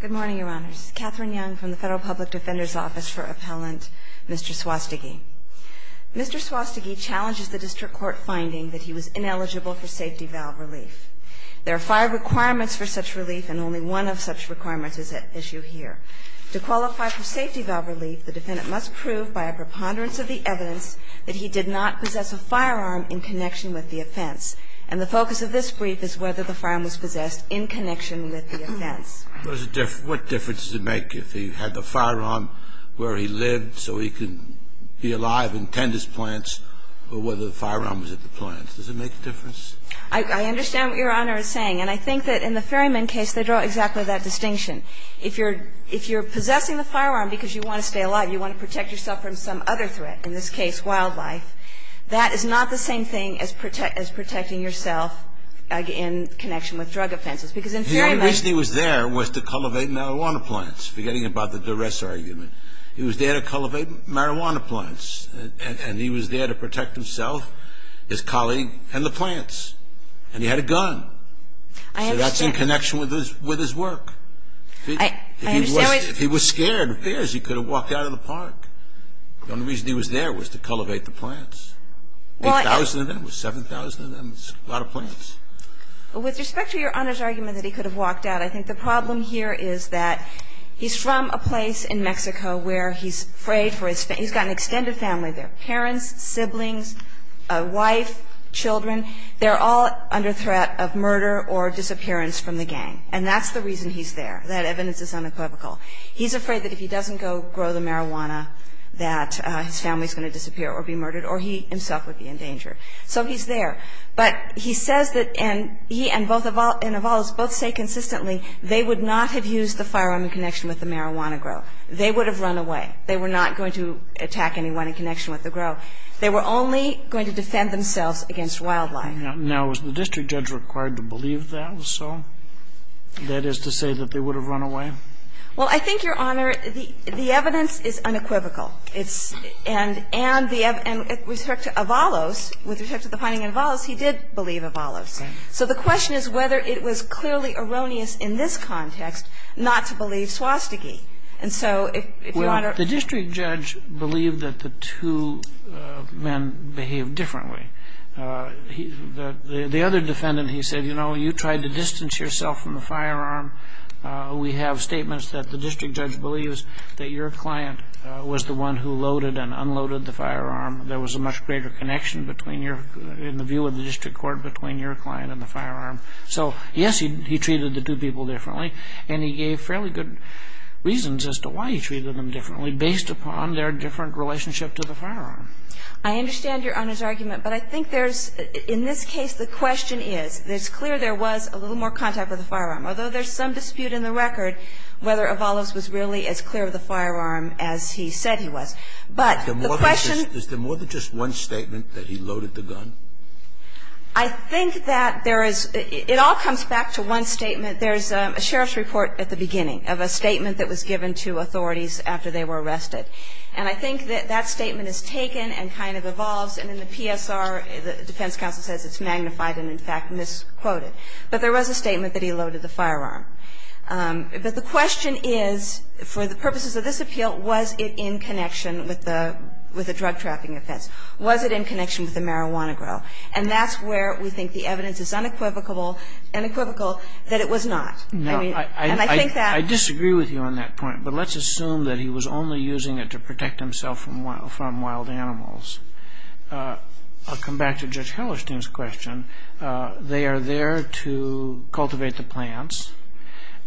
Good morning, Your Honors. Catherine Young from the Federal Public Defender's Office for Appellant Mr. Suastegui. Mr. Suastegui challenges the district court finding that he was ineligible for safety valve relief. There are five requirements for such relief and only one of such requirements is at issue here. To qualify for safety valve relief, the defendant must prove by a preponderance of the evidence that he did not possess a firearm in connection with the offense. And the focus of this brief is whether the firearm was possessed in connection with the offense. What difference does it make if he had the firearm where he lived so he could be alive and tend his plants or whether the firearm was at the plants? Does it make a difference? I understand what Your Honor is saying. And I think that in the Ferryman case they draw exactly that distinction. If you're possessing the firearm because you want to stay alive, you want to protect yourself from some other threat, in this case wildlife, that is not the same thing as protecting yourself in connection with drug offenses. The only reason he was there was to cultivate marijuana plants, forgetting about the duress argument. He was there to cultivate marijuana plants. And he was there to protect himself, his colleague, and the plants. And he had a gun. So that's in connection with his work. If he was scared of bears, he could have walked out of the park. The only reason he was there was to cultivate the plants. 8,000 of them, 7,000 of them, a lot of plants. With respect to Your Honor's argument that he could have walked out, I think the problem here is that he's from a place in Mexico where he's afraid for his family. He's got an extended family there. Parents, siblings, a wife, children, they're all under threat of murder or disappearance from the gang. And that's the reason he's there. That evidence is unequivocal. He's afraid that if he doesn't go grow the marijuana that his family is going to disappear or be murdered or he himself would be in danger. So he's there. But he says that he and both Avalos both say consistently they would not have used the firearm in connection with the marijuana grow. They would have run away. They were not going to attack anyone in connection with the grow. They were only going to defend themselves against wildlife. Now, is the district judge required to believe that was so? That is to say that they would have run away? Well, I think, Your Honor, the evidence is unequivocal. And with respect to Avalos, with respect to the finding in Avalos, he did believe Avalos. So the question is whether it was clearly erroneous in this context not to believe Swastiki. And so if Your Honor ---- Well, the district judge believed that the two men behaved differently. The other defendant, he said, you know, you tried to distance yourself from the firearm. We have statements that the district judge believes that your client was the one who loaded and unloaded the firearm. There was a much greater connection between your ---- in the view of the district court between your client and the firearm. So, yes, he treated the two people differently. And he gave fairly good reasons as to why he treated them differently based upon their different relationship to the firearm. I understand Your Honor's argument. But I think there's ---- in this case, the question is, it's clear there was a little more contact with the firearm, although there's some dispute in the record whether Avalos was really as clear with the firearm as he said he was. But the question ---- Is there more than just one statement that he loaded the gun? I think that there is ---- it all comes back to one statement. There's a sheriff's report at the beginning of a statement that was given to authorities after they were arrested. And I think that that statement is taken and kind of evolves. And in the PSR, the defense counsel says it's magnified and, in fact, misquoted. But there was a statement that he loaded the firearm. But the question is, for the purposes of this appeal, was it in connection with the drug-trafficking offense? Was it in connection with the marijuana grow? And that's where we think the evidence is unequivocal that it was not. And I think that ---- I disagree with you on that point. But let's assume that he was only using it to protect himself from wild animals. I'll come back to Judge Hellerstein's question. They are there to cultivate the plants.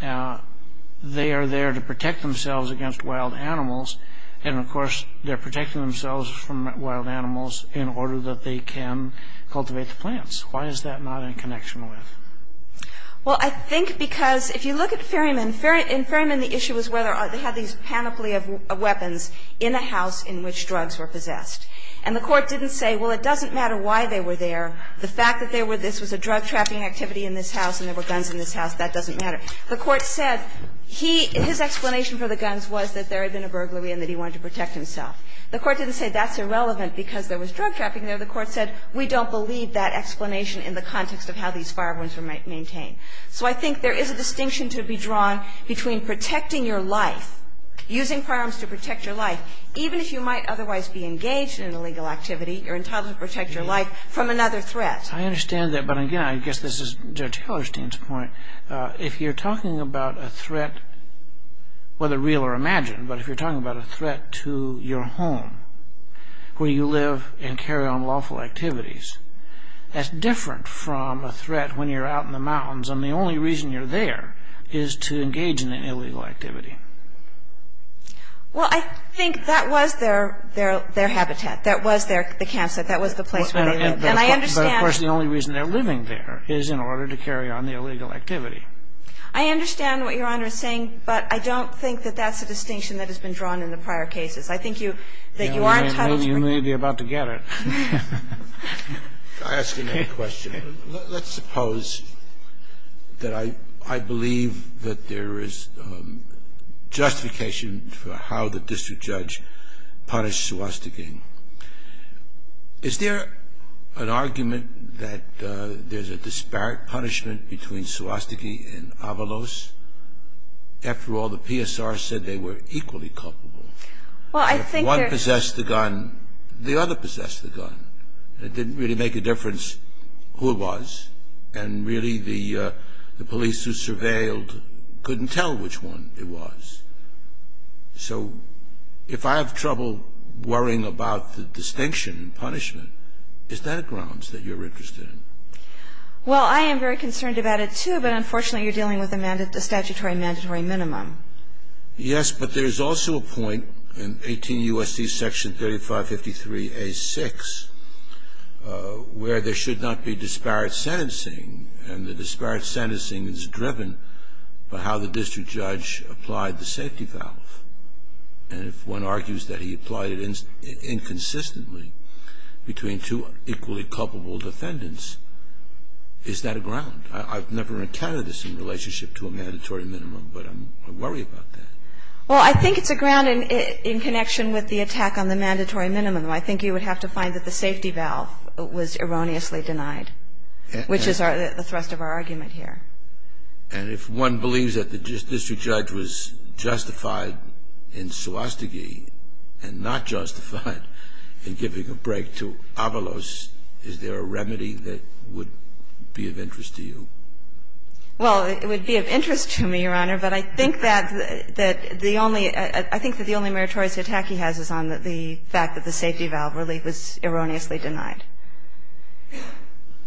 They are there to protect themselves against wild animals. And, of course, they're protecting themselves from wild animals in order that they can cultivate the plants. Why is that not in connection with? Well, I think because if you look at Ferryman, in Ferryman the issue was whether or not they had these panoply of weapons in a house in which drugs were possessed. And the Court didn't say, well, it doesn't matter why they were there. The fact that there were ---- this was a drug-trafficking activity in this house and there were guns in this house, that doesn't matter. The Court said he ---- his explanation for the guns was that there had been a burglary and that he wanted to protect himself. The Court didn't say that's irrelevant because there was drug-trafficking there. The Court said we don't believe that explanation in the context of how these firearms were maintained. So I think there is a distinction to be drawn between protecting your life, using firearms to protect your life, even if you might otherwise be engaged in an illegal activity, you're entitled to protect your life from another threat. I understand that. But again, I guess this is Judge Hellerstein's point. If you're talking about a threat, whether real or imagined, but if you're talking about a threat to your home where you live and carry on lawful activities, that's different from a threat when you're out in the mountains and the only reason you're there is to engage in an illegal activity. Well, I think that was their habitat, that was their campsite, that was the place where they lived. And I understand. But, of course, the only reason they're living there is in order to carry on the illegal activity. I understand what Your Honor is saying, but I don't think that that's a distinction that has been drawn in the prior cases. I think you ---- that you aren't entitled to protect your life. You may be about to get it. I ask another question. Let's suppose that I believe that there is justification for how the district judge punished Swastiki. Is there an argument that there's a disparate punishment between Swastiki and Avalos? After all, the PSR said they were equally culpable. Well, I think there's ---- It didn't really make a difference who it was. And, really, the police who surveilled couldn't tell which one it was. So if I have trouble worrying about the distinction and punishment, is that a grounds that you're interested in? Well, I am very concerned about it, too. But, unfortunately, you're dealing with a statutory mandatory minimum. Yes, but there's also a point in 18 U.S.C. Section 3553A.6 where there should not be disparate sentencing, and the disparate sentencing is driven by how the district judge applied the safety valve. And if one argues that he applied it inconsistently between two equally culpable defendants, is that a ground? I've never encountered this in relationship to a mandatory minimum, but I worry about that. Well, I think it's a ground in connection with the attack on the mandatory minimum. I think you would have to find that the safety valve was erroneously denied, which is the thrust of our argument here. And if one believes that the district judge was justified in Swastiki and not justified in giving a break to Avalos, is there a remedy that would be of interest to you? Well, it would be of interest to me, Your Honor, but I think that the only ‑‑ I think that the only meritorious attack he has is on the fact that the safety valve relief was erroneously denied.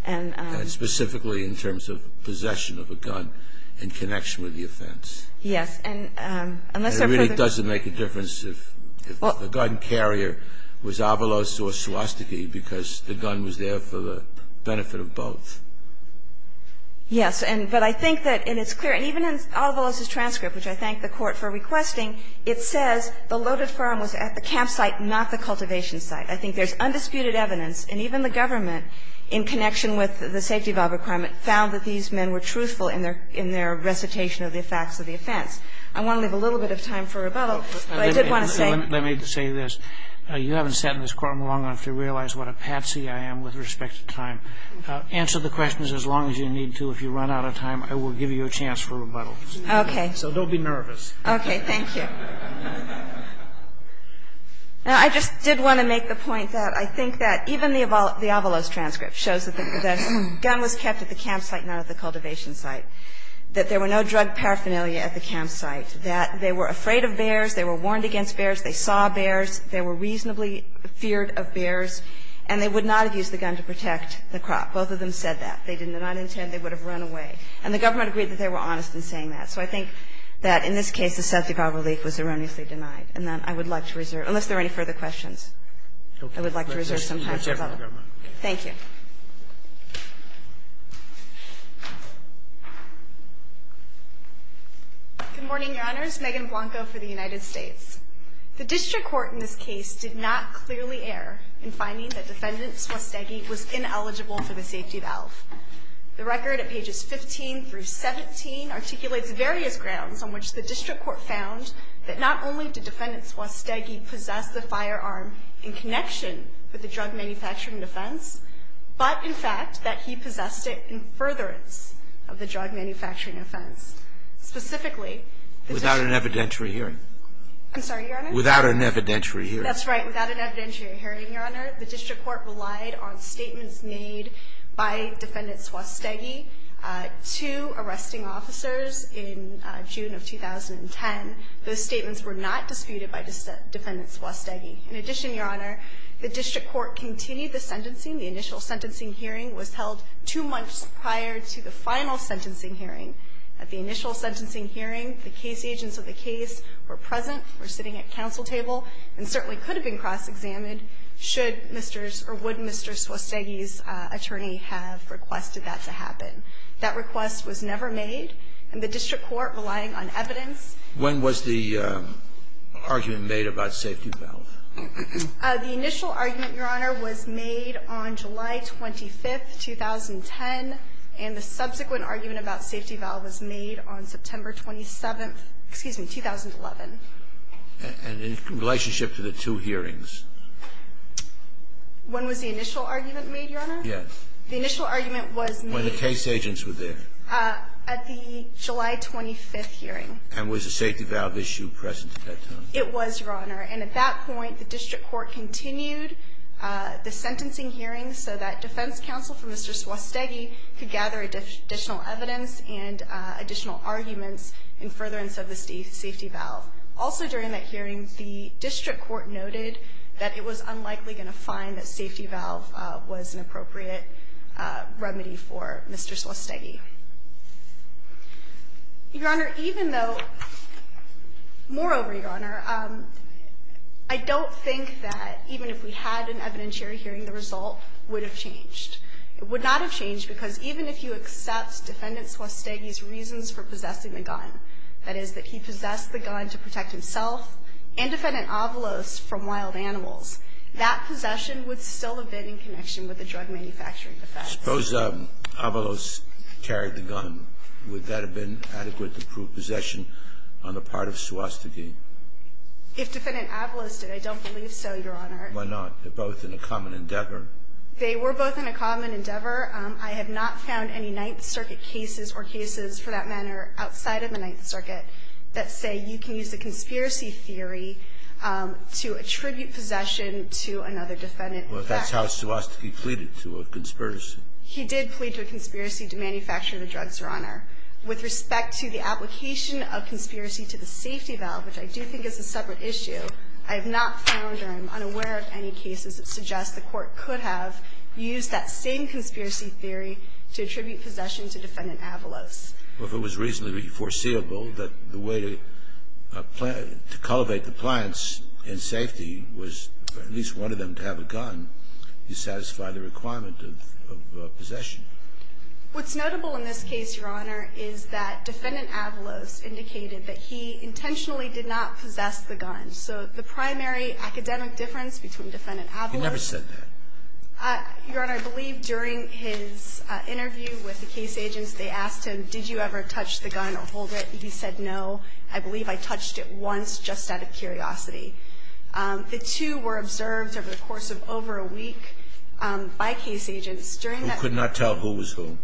And ‑‑ And specifically in terms of possession of a gun in connection with the offense. Yes. And it really doesn't make a difference if the gun carrier was Avalos or Swastiki because the gun was there for the benefit of both. Yes. But I think that it's clear, and even in Avalos's transcript, which I thank the Court for requesting, it says the loaded firearm was at the campsite, not the cultivation site. I think there's undisputed evidence, and even the government, in connection with the safety valve requirement, found that these men were truthful in their recitation of the facts of the offense. I want to leave a little bit of time for rebuttal, but I did want to say ‑‑ Let me say this. You haven't sat in this courtroom long enough to realize what a patsy I am with respect to time. Answer the questions as long as you need to. If you run out of time, I will give you a chance for rebuttal. Okay. So don't be nervous. Okay. Thank you. Now, I just did want to make the point that I think that even the Avalos transcript shows that the gun was kept at the campsite, not at the cultivation site, that there were no drug paraphernalia at the campsite, that they were afraid of bears, they were warned against bears, they saw bears, they were reasonably feared of bears, and they would not have used the gun to protect the crop. Both of them said that. They did not intend they would have run away. And the government agreed that they were honest in saying that. So I think that in this case, the safety valve relief was erroneously denied. And then I would like to reserve ‑‑ unless there are any further questions, I would like to reserve some time for rebuttal. Thank you very much. Thank you. Good morning, Your Honors. Megan Blanco for the United States. The district court in this case did not clearly err in finding that defendant Swastegi was ineligible for the safety valve. The record at pages 15 through 17 articulates various grounds on which the district court found that not only did defendant Swastegi possess the firearm in connection with the drug manufacturing offense, but in fact that he possessed it in furtherance of the drug manufacturing offense. Specifically ‑‑ Without an evidentiary hearing. I'm sorry, Your Honor? Without an evidentiary hearing. That's right. Without an evidentiary hearing, Your Honor. The district court relied on statements made by defendant Swastegi to arresting officers in June of 2010. Those statements were not disputed by defendant Swastegi. In addition, Your Honor, the district court continued the sentencing. The initial sentencing hearing was held two months prior to the final sentencing hearing. At the initial sentencing hearing, the case agents of the case were present, were sitting at counsel table, and certainly could have been cross-examined should Mr. or would Mr. Swastegi's attorney have requested that to happen. That request was never made. And the district court, relying on evidence ‑‑ The initial argument, Your Honor, was made on July 25th, 2010, and the subsequent argument about safety valve was made on September 27th, excuse me, 2011. And in relationship to the two hearings? When was the initial argument made, Your Honor? Yes. The initial argument was ‑‑ When the case agents were there. At the July 25th hearing. And was the safety valve issue present at that time? It was, Your Honor. And at that point, the district court continued the sentencing hearing so that defense counsel for Mr. Swastegi could gather additional evidence and additional arguments in furtherance of the safety valve. Also during that hearing, the district court noted that it was unlikely going to find that safety valve was an appropriate remedy for Mr. Swastegi. Your Honor, even though ‑‑ moreover, Your Honor, I don't think that even if we had an evidentiary hearing, the result would have changed. It would not have changed because even if you accept Defendant Swastegi's reasons for possessing the gun, that is, that he possessed the gun to protect himself and Defendant Avalos from wild animals, that possession would still have been in connection with the drug manufacturing defense. Suppose Avalos carried the gun. Would that have been adequate to prove possession on the part of Swastegi? If Defendant Avalos did, I don't believe so, Your Honor. Why not? They're both in a common endeavor. They were both in a common endeavor. I have not found any Ninth Circuit cases or cases for that matter outside of the Ninth Circuit that say you can use the conspiracy theory to attribute possession to another defendant. Well, that's how Swastegi pleaded to a conspiracy. He did plead to a conspiracy to manufacture the drug, Your Honor. With respect to the application of conspiracy to the safety valve, which I do think is a separate issue, I have not found or am unaware of any cases that suggest the court could have used that same conspiracy theory to attribute possession to Defendant Avalos. Well, if it was reasonably foreseeable that the way to cultivate the plants in Swastegi was to have a gun, you satisfy the requirement of possession. What's notable in this case, Your Honor, is that Defendant Avalos indicated that he intentionally did not possess the gun. So the primary academic difference between Defendant Avalos. He never said that. Your Honor, I believe during his interview with the case agents, they asked him, did you ever touch the gun or hold it, and he said no. I believe I touched it once just out of curiosity. The two were observed over the course of over a week by case agents. During that ---- Who could not tell who was who?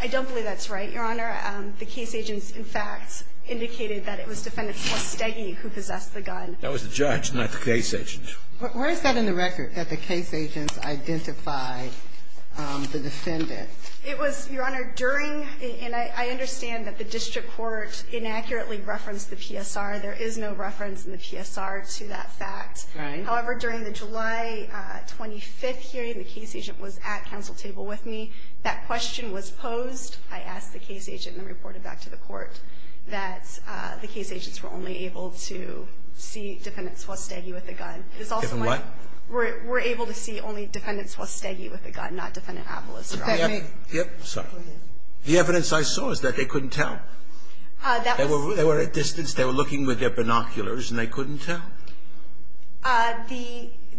I don't believe that's right, Your Honor. The case agents, in fact, indicated that it was Defendant Swastegi who possessed the gun. That was the judge, not the case agents. Where is that in the record, that the case agents identified the defendant? It was, Your Honor, during the ---- and I understand that the district court inaccurately referenced the PSR. There is no reference in the PSR to that fact. Right. However, during the July 25th hearing, the case agent was at council table with me. That question was posed. I asked the case agent and reported back to the court that the case agents were only able to see Defendant Swastegi with a gun. It's also like ---- Defend what? We're able to see only Defendant Swastegi with a gun, not Defendant Avalos. The evidence I saw is that they couldn't tell. That was ---- The evidence they were looking with their binoculars and they couldn't tell? The arguments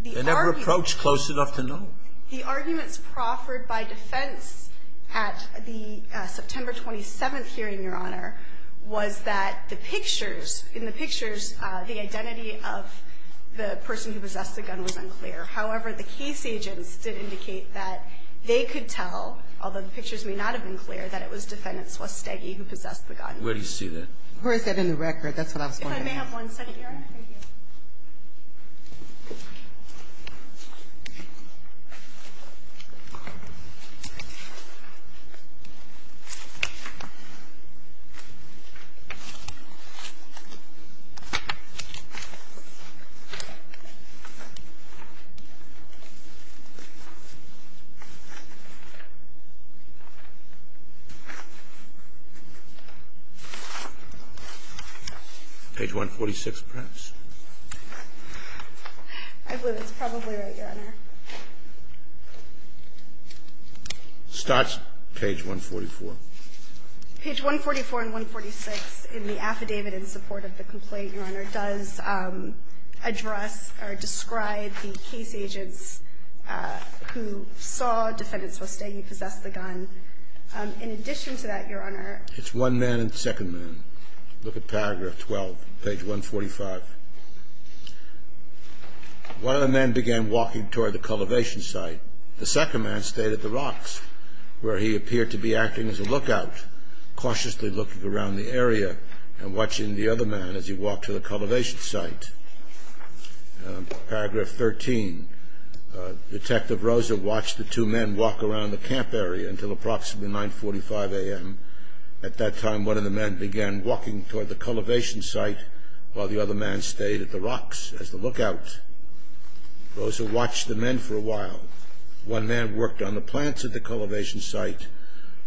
---- They never approached close enough to know. The arguments proffered by defense at the September 27th hearing, Your Honor, was that the pictures, in the pictures, the identity of the person who possessed the gun was unclear. However, the case agents did indicate that they could tell, although the pictures may not have been clear, that it was Defendant Swastegi who possessed the gun. Where do you see that? Where is that in the record? That's what I was going to ask. If I may have one second, Your Honor. Thank you. Page 146, perhaps. I believe it's probably right, Your Honor. Starts page 144. Page 144 and 146 in the affidavit in support of the complaint, Your Honor, does address or describe the case agents who saw Defendant Swastegi possess the gun. In addition to that, Your Honor ---- It's one man and second man. Look at paragraph 12, page 145. One of the men began walking toward the cultivation site. The second man stayed at the rocks where he appeared to be acting as a lookout, cautiously looking around the area and watching the other man as he walked to the cultivation site. Paragraph 13. Detective Rosa watched the two men walk around the camp area until approximately 945 a.m. At that time, one of the men began walking toward the cultivation site while the other man stayed at the rocks as the lookout. Rosa watched the men for a while. One man worked on the plants at the cultivation site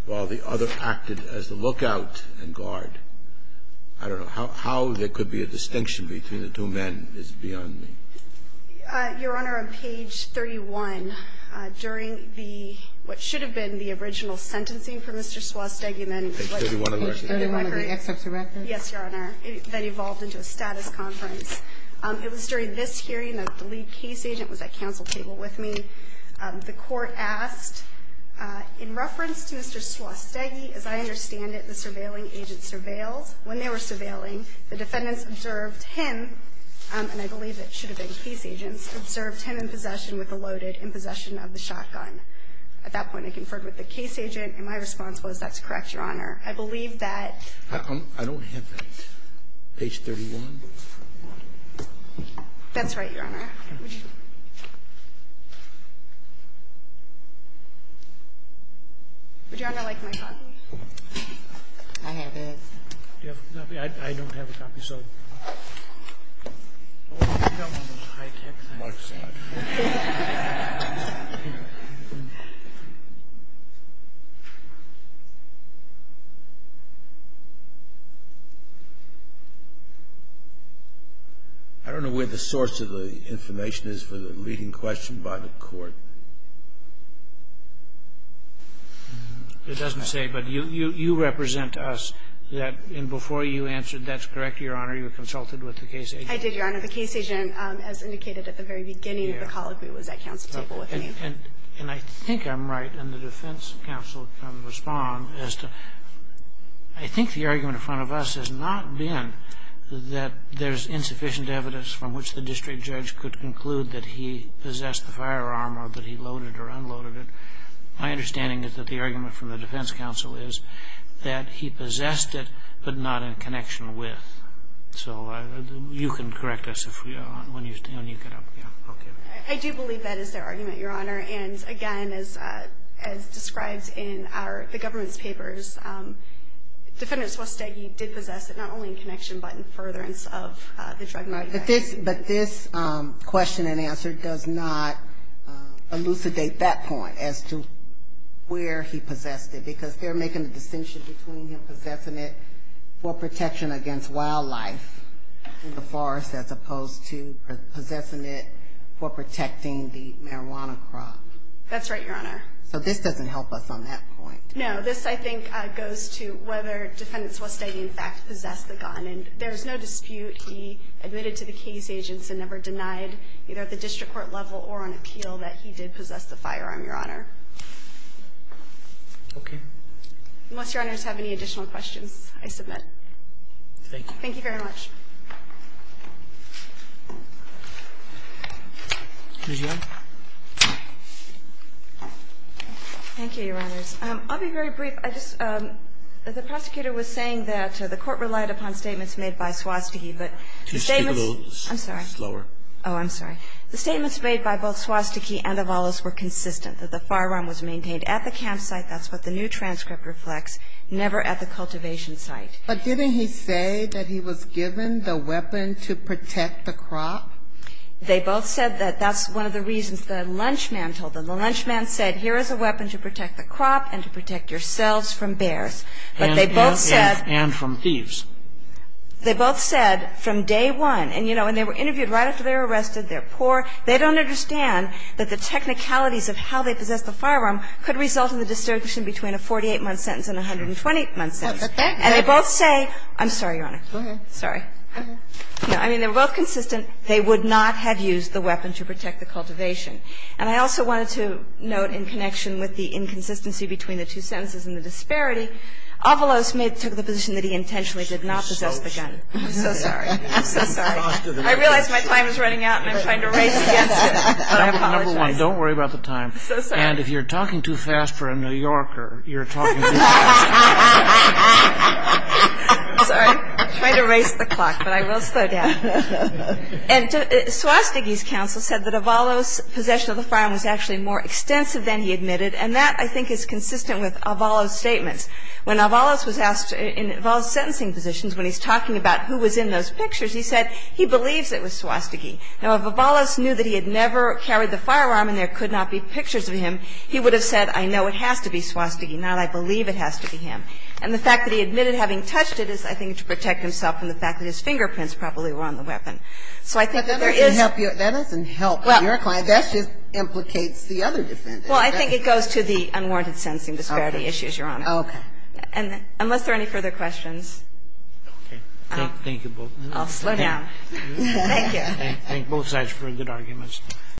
while the other acted as the lookout and guard. I don't know. How there could be a distinction between the two men is beyond me. Your Honor, on page 31, during the ---- what should have been the original sentencing for Mr. Swastegi and then ---- Page 31 of the exception record? Yes, Your Honor. That evolved into a status conference. It was during this hearing that the lead case agent was at counsel table with me. The court asked, in reference to Mr. Swastegi, as I understand it, the surveilling agent surveilled. When they were surveilling, the defendants observed him, and I believe it should have been case agents, observed him in possession with a loaded, in possession of the shotgun. At that point, I conferred with the case agent, and my response was, that's correct, Your Honor. I believe that ---- I don't have that. Page 31? That's right, Your Honor. Would Your Honor like my copy? I have it. I don't have a copy, so ---- I don't know where the source of the information is for the leading question by the court. It doesn't say. But you represent us. And before you answered, that's correct, Your Honor. I did, Your Honor. The case agent, as indicated at the very beginning of the call, was at counsel table with me. And I think I'm right, and the defense counsel can respond as to, I think the argument in front of us has not been that there's insufficient evidence from which the district judge could conclude that he possessed the firearm or that he loaded or unloaded it. My understanding is that the argument from the defense counsel is that he possessed it, but not in connection with. So you can correct us when you get up. I do believe that is their argument, Your Honor. And again, as described in the government's papers, Defendant Swastegi did possess it, not only in connection, but in furtherance of the drug money. But this question and answer does not elucidate that point as to where he possessed it, because they're making a distinction between him possessing it for protection against wildlife in the forest as opposed to possessing it for protecting the marijuana crop. That's right, Your Honor. So this doesn't help us on that point. No. This, I think, goes to whether Defendant Swastegi, in fact, possessed the gun. And there's no dispute he admitted to the case agents and never denied, either at the district court level or on appeal, that he did possess the firearm, Your Honor. Okay. Unless Your Honors have any additional questions, I submit. Thank you. Thank you very much. Ms. Young. Thank you, Your Honors. I'll be very brief. I just – the prosecutor was saying that the Court relied upon statements made by Swastegi, but the statements – Can you speak a little slower? I'm sorry. Oh, I'm sorry. The statements made by both Swastegi and Avalos were consistent, that the firearm was maintained at the campsite, that's what the new transcript reflects, never at the cultivation site. But didn't he say that he was given the weapon to protect the crop? They both said that. That's one of the reasons the lunch man told them. The lunch man said, here is a weapon to protect the crop and to protect yourselves from bears. But they both said – And from thieves. They both said from day one. And, you know, when they were interviewed right after they were arrested, they're poor, they don't understand that the technicalities of how they possessed the firearm could result in the distribution between a 48-month sentence and a 120-month sentence. And they both say – I'm sorry, Your Honor. Sorry. No. I mean, they were both consistent. They would not have used the weapon to protect the cultivation. And I also wanted to note in connection with the inconsistency between the two sentences and the disparity, Avalos may have took the position that he intentionally did not possess the gun. I'm so sorry. I'm so sorry. I realize my time is running out and I'm trying to erase the answer. I apologize. Number one, don't worry about the time. I'm so sorry. And if you're talking too fast for a New Yorker, you're talking too fast. I'm sorry. I'm trying to erase the clock, but I will slow down. And Swastiky's counsel said that Avalos' possession of the firearm was actually more extensive than he admitted. And that, I think, is consistent with Avalos' statements. When Avalos was asked in Avalos' sentencing positions when he's talking about who was in those pictures, he said he believes it was Swastiky. Now, if Avalos knew that he had never carried the firearm and there could not be pictures of him, he would have said I know it has to be Swastiky, not I believe it has to be him. And the fact that he admitted having touched it is, I think, to protect himself from the fact that his fingerprints probably were on the weapon. So I think there is there is. But that doesn't help your client. That just implicates the other defendant. Well, I think it goes to the unwarranted sentencing disparity issue, Your Honor. Okay. And unless there are any further questions. Okay. Thank you both. I'll slow down. Thank you. Thank both sides for a good argument.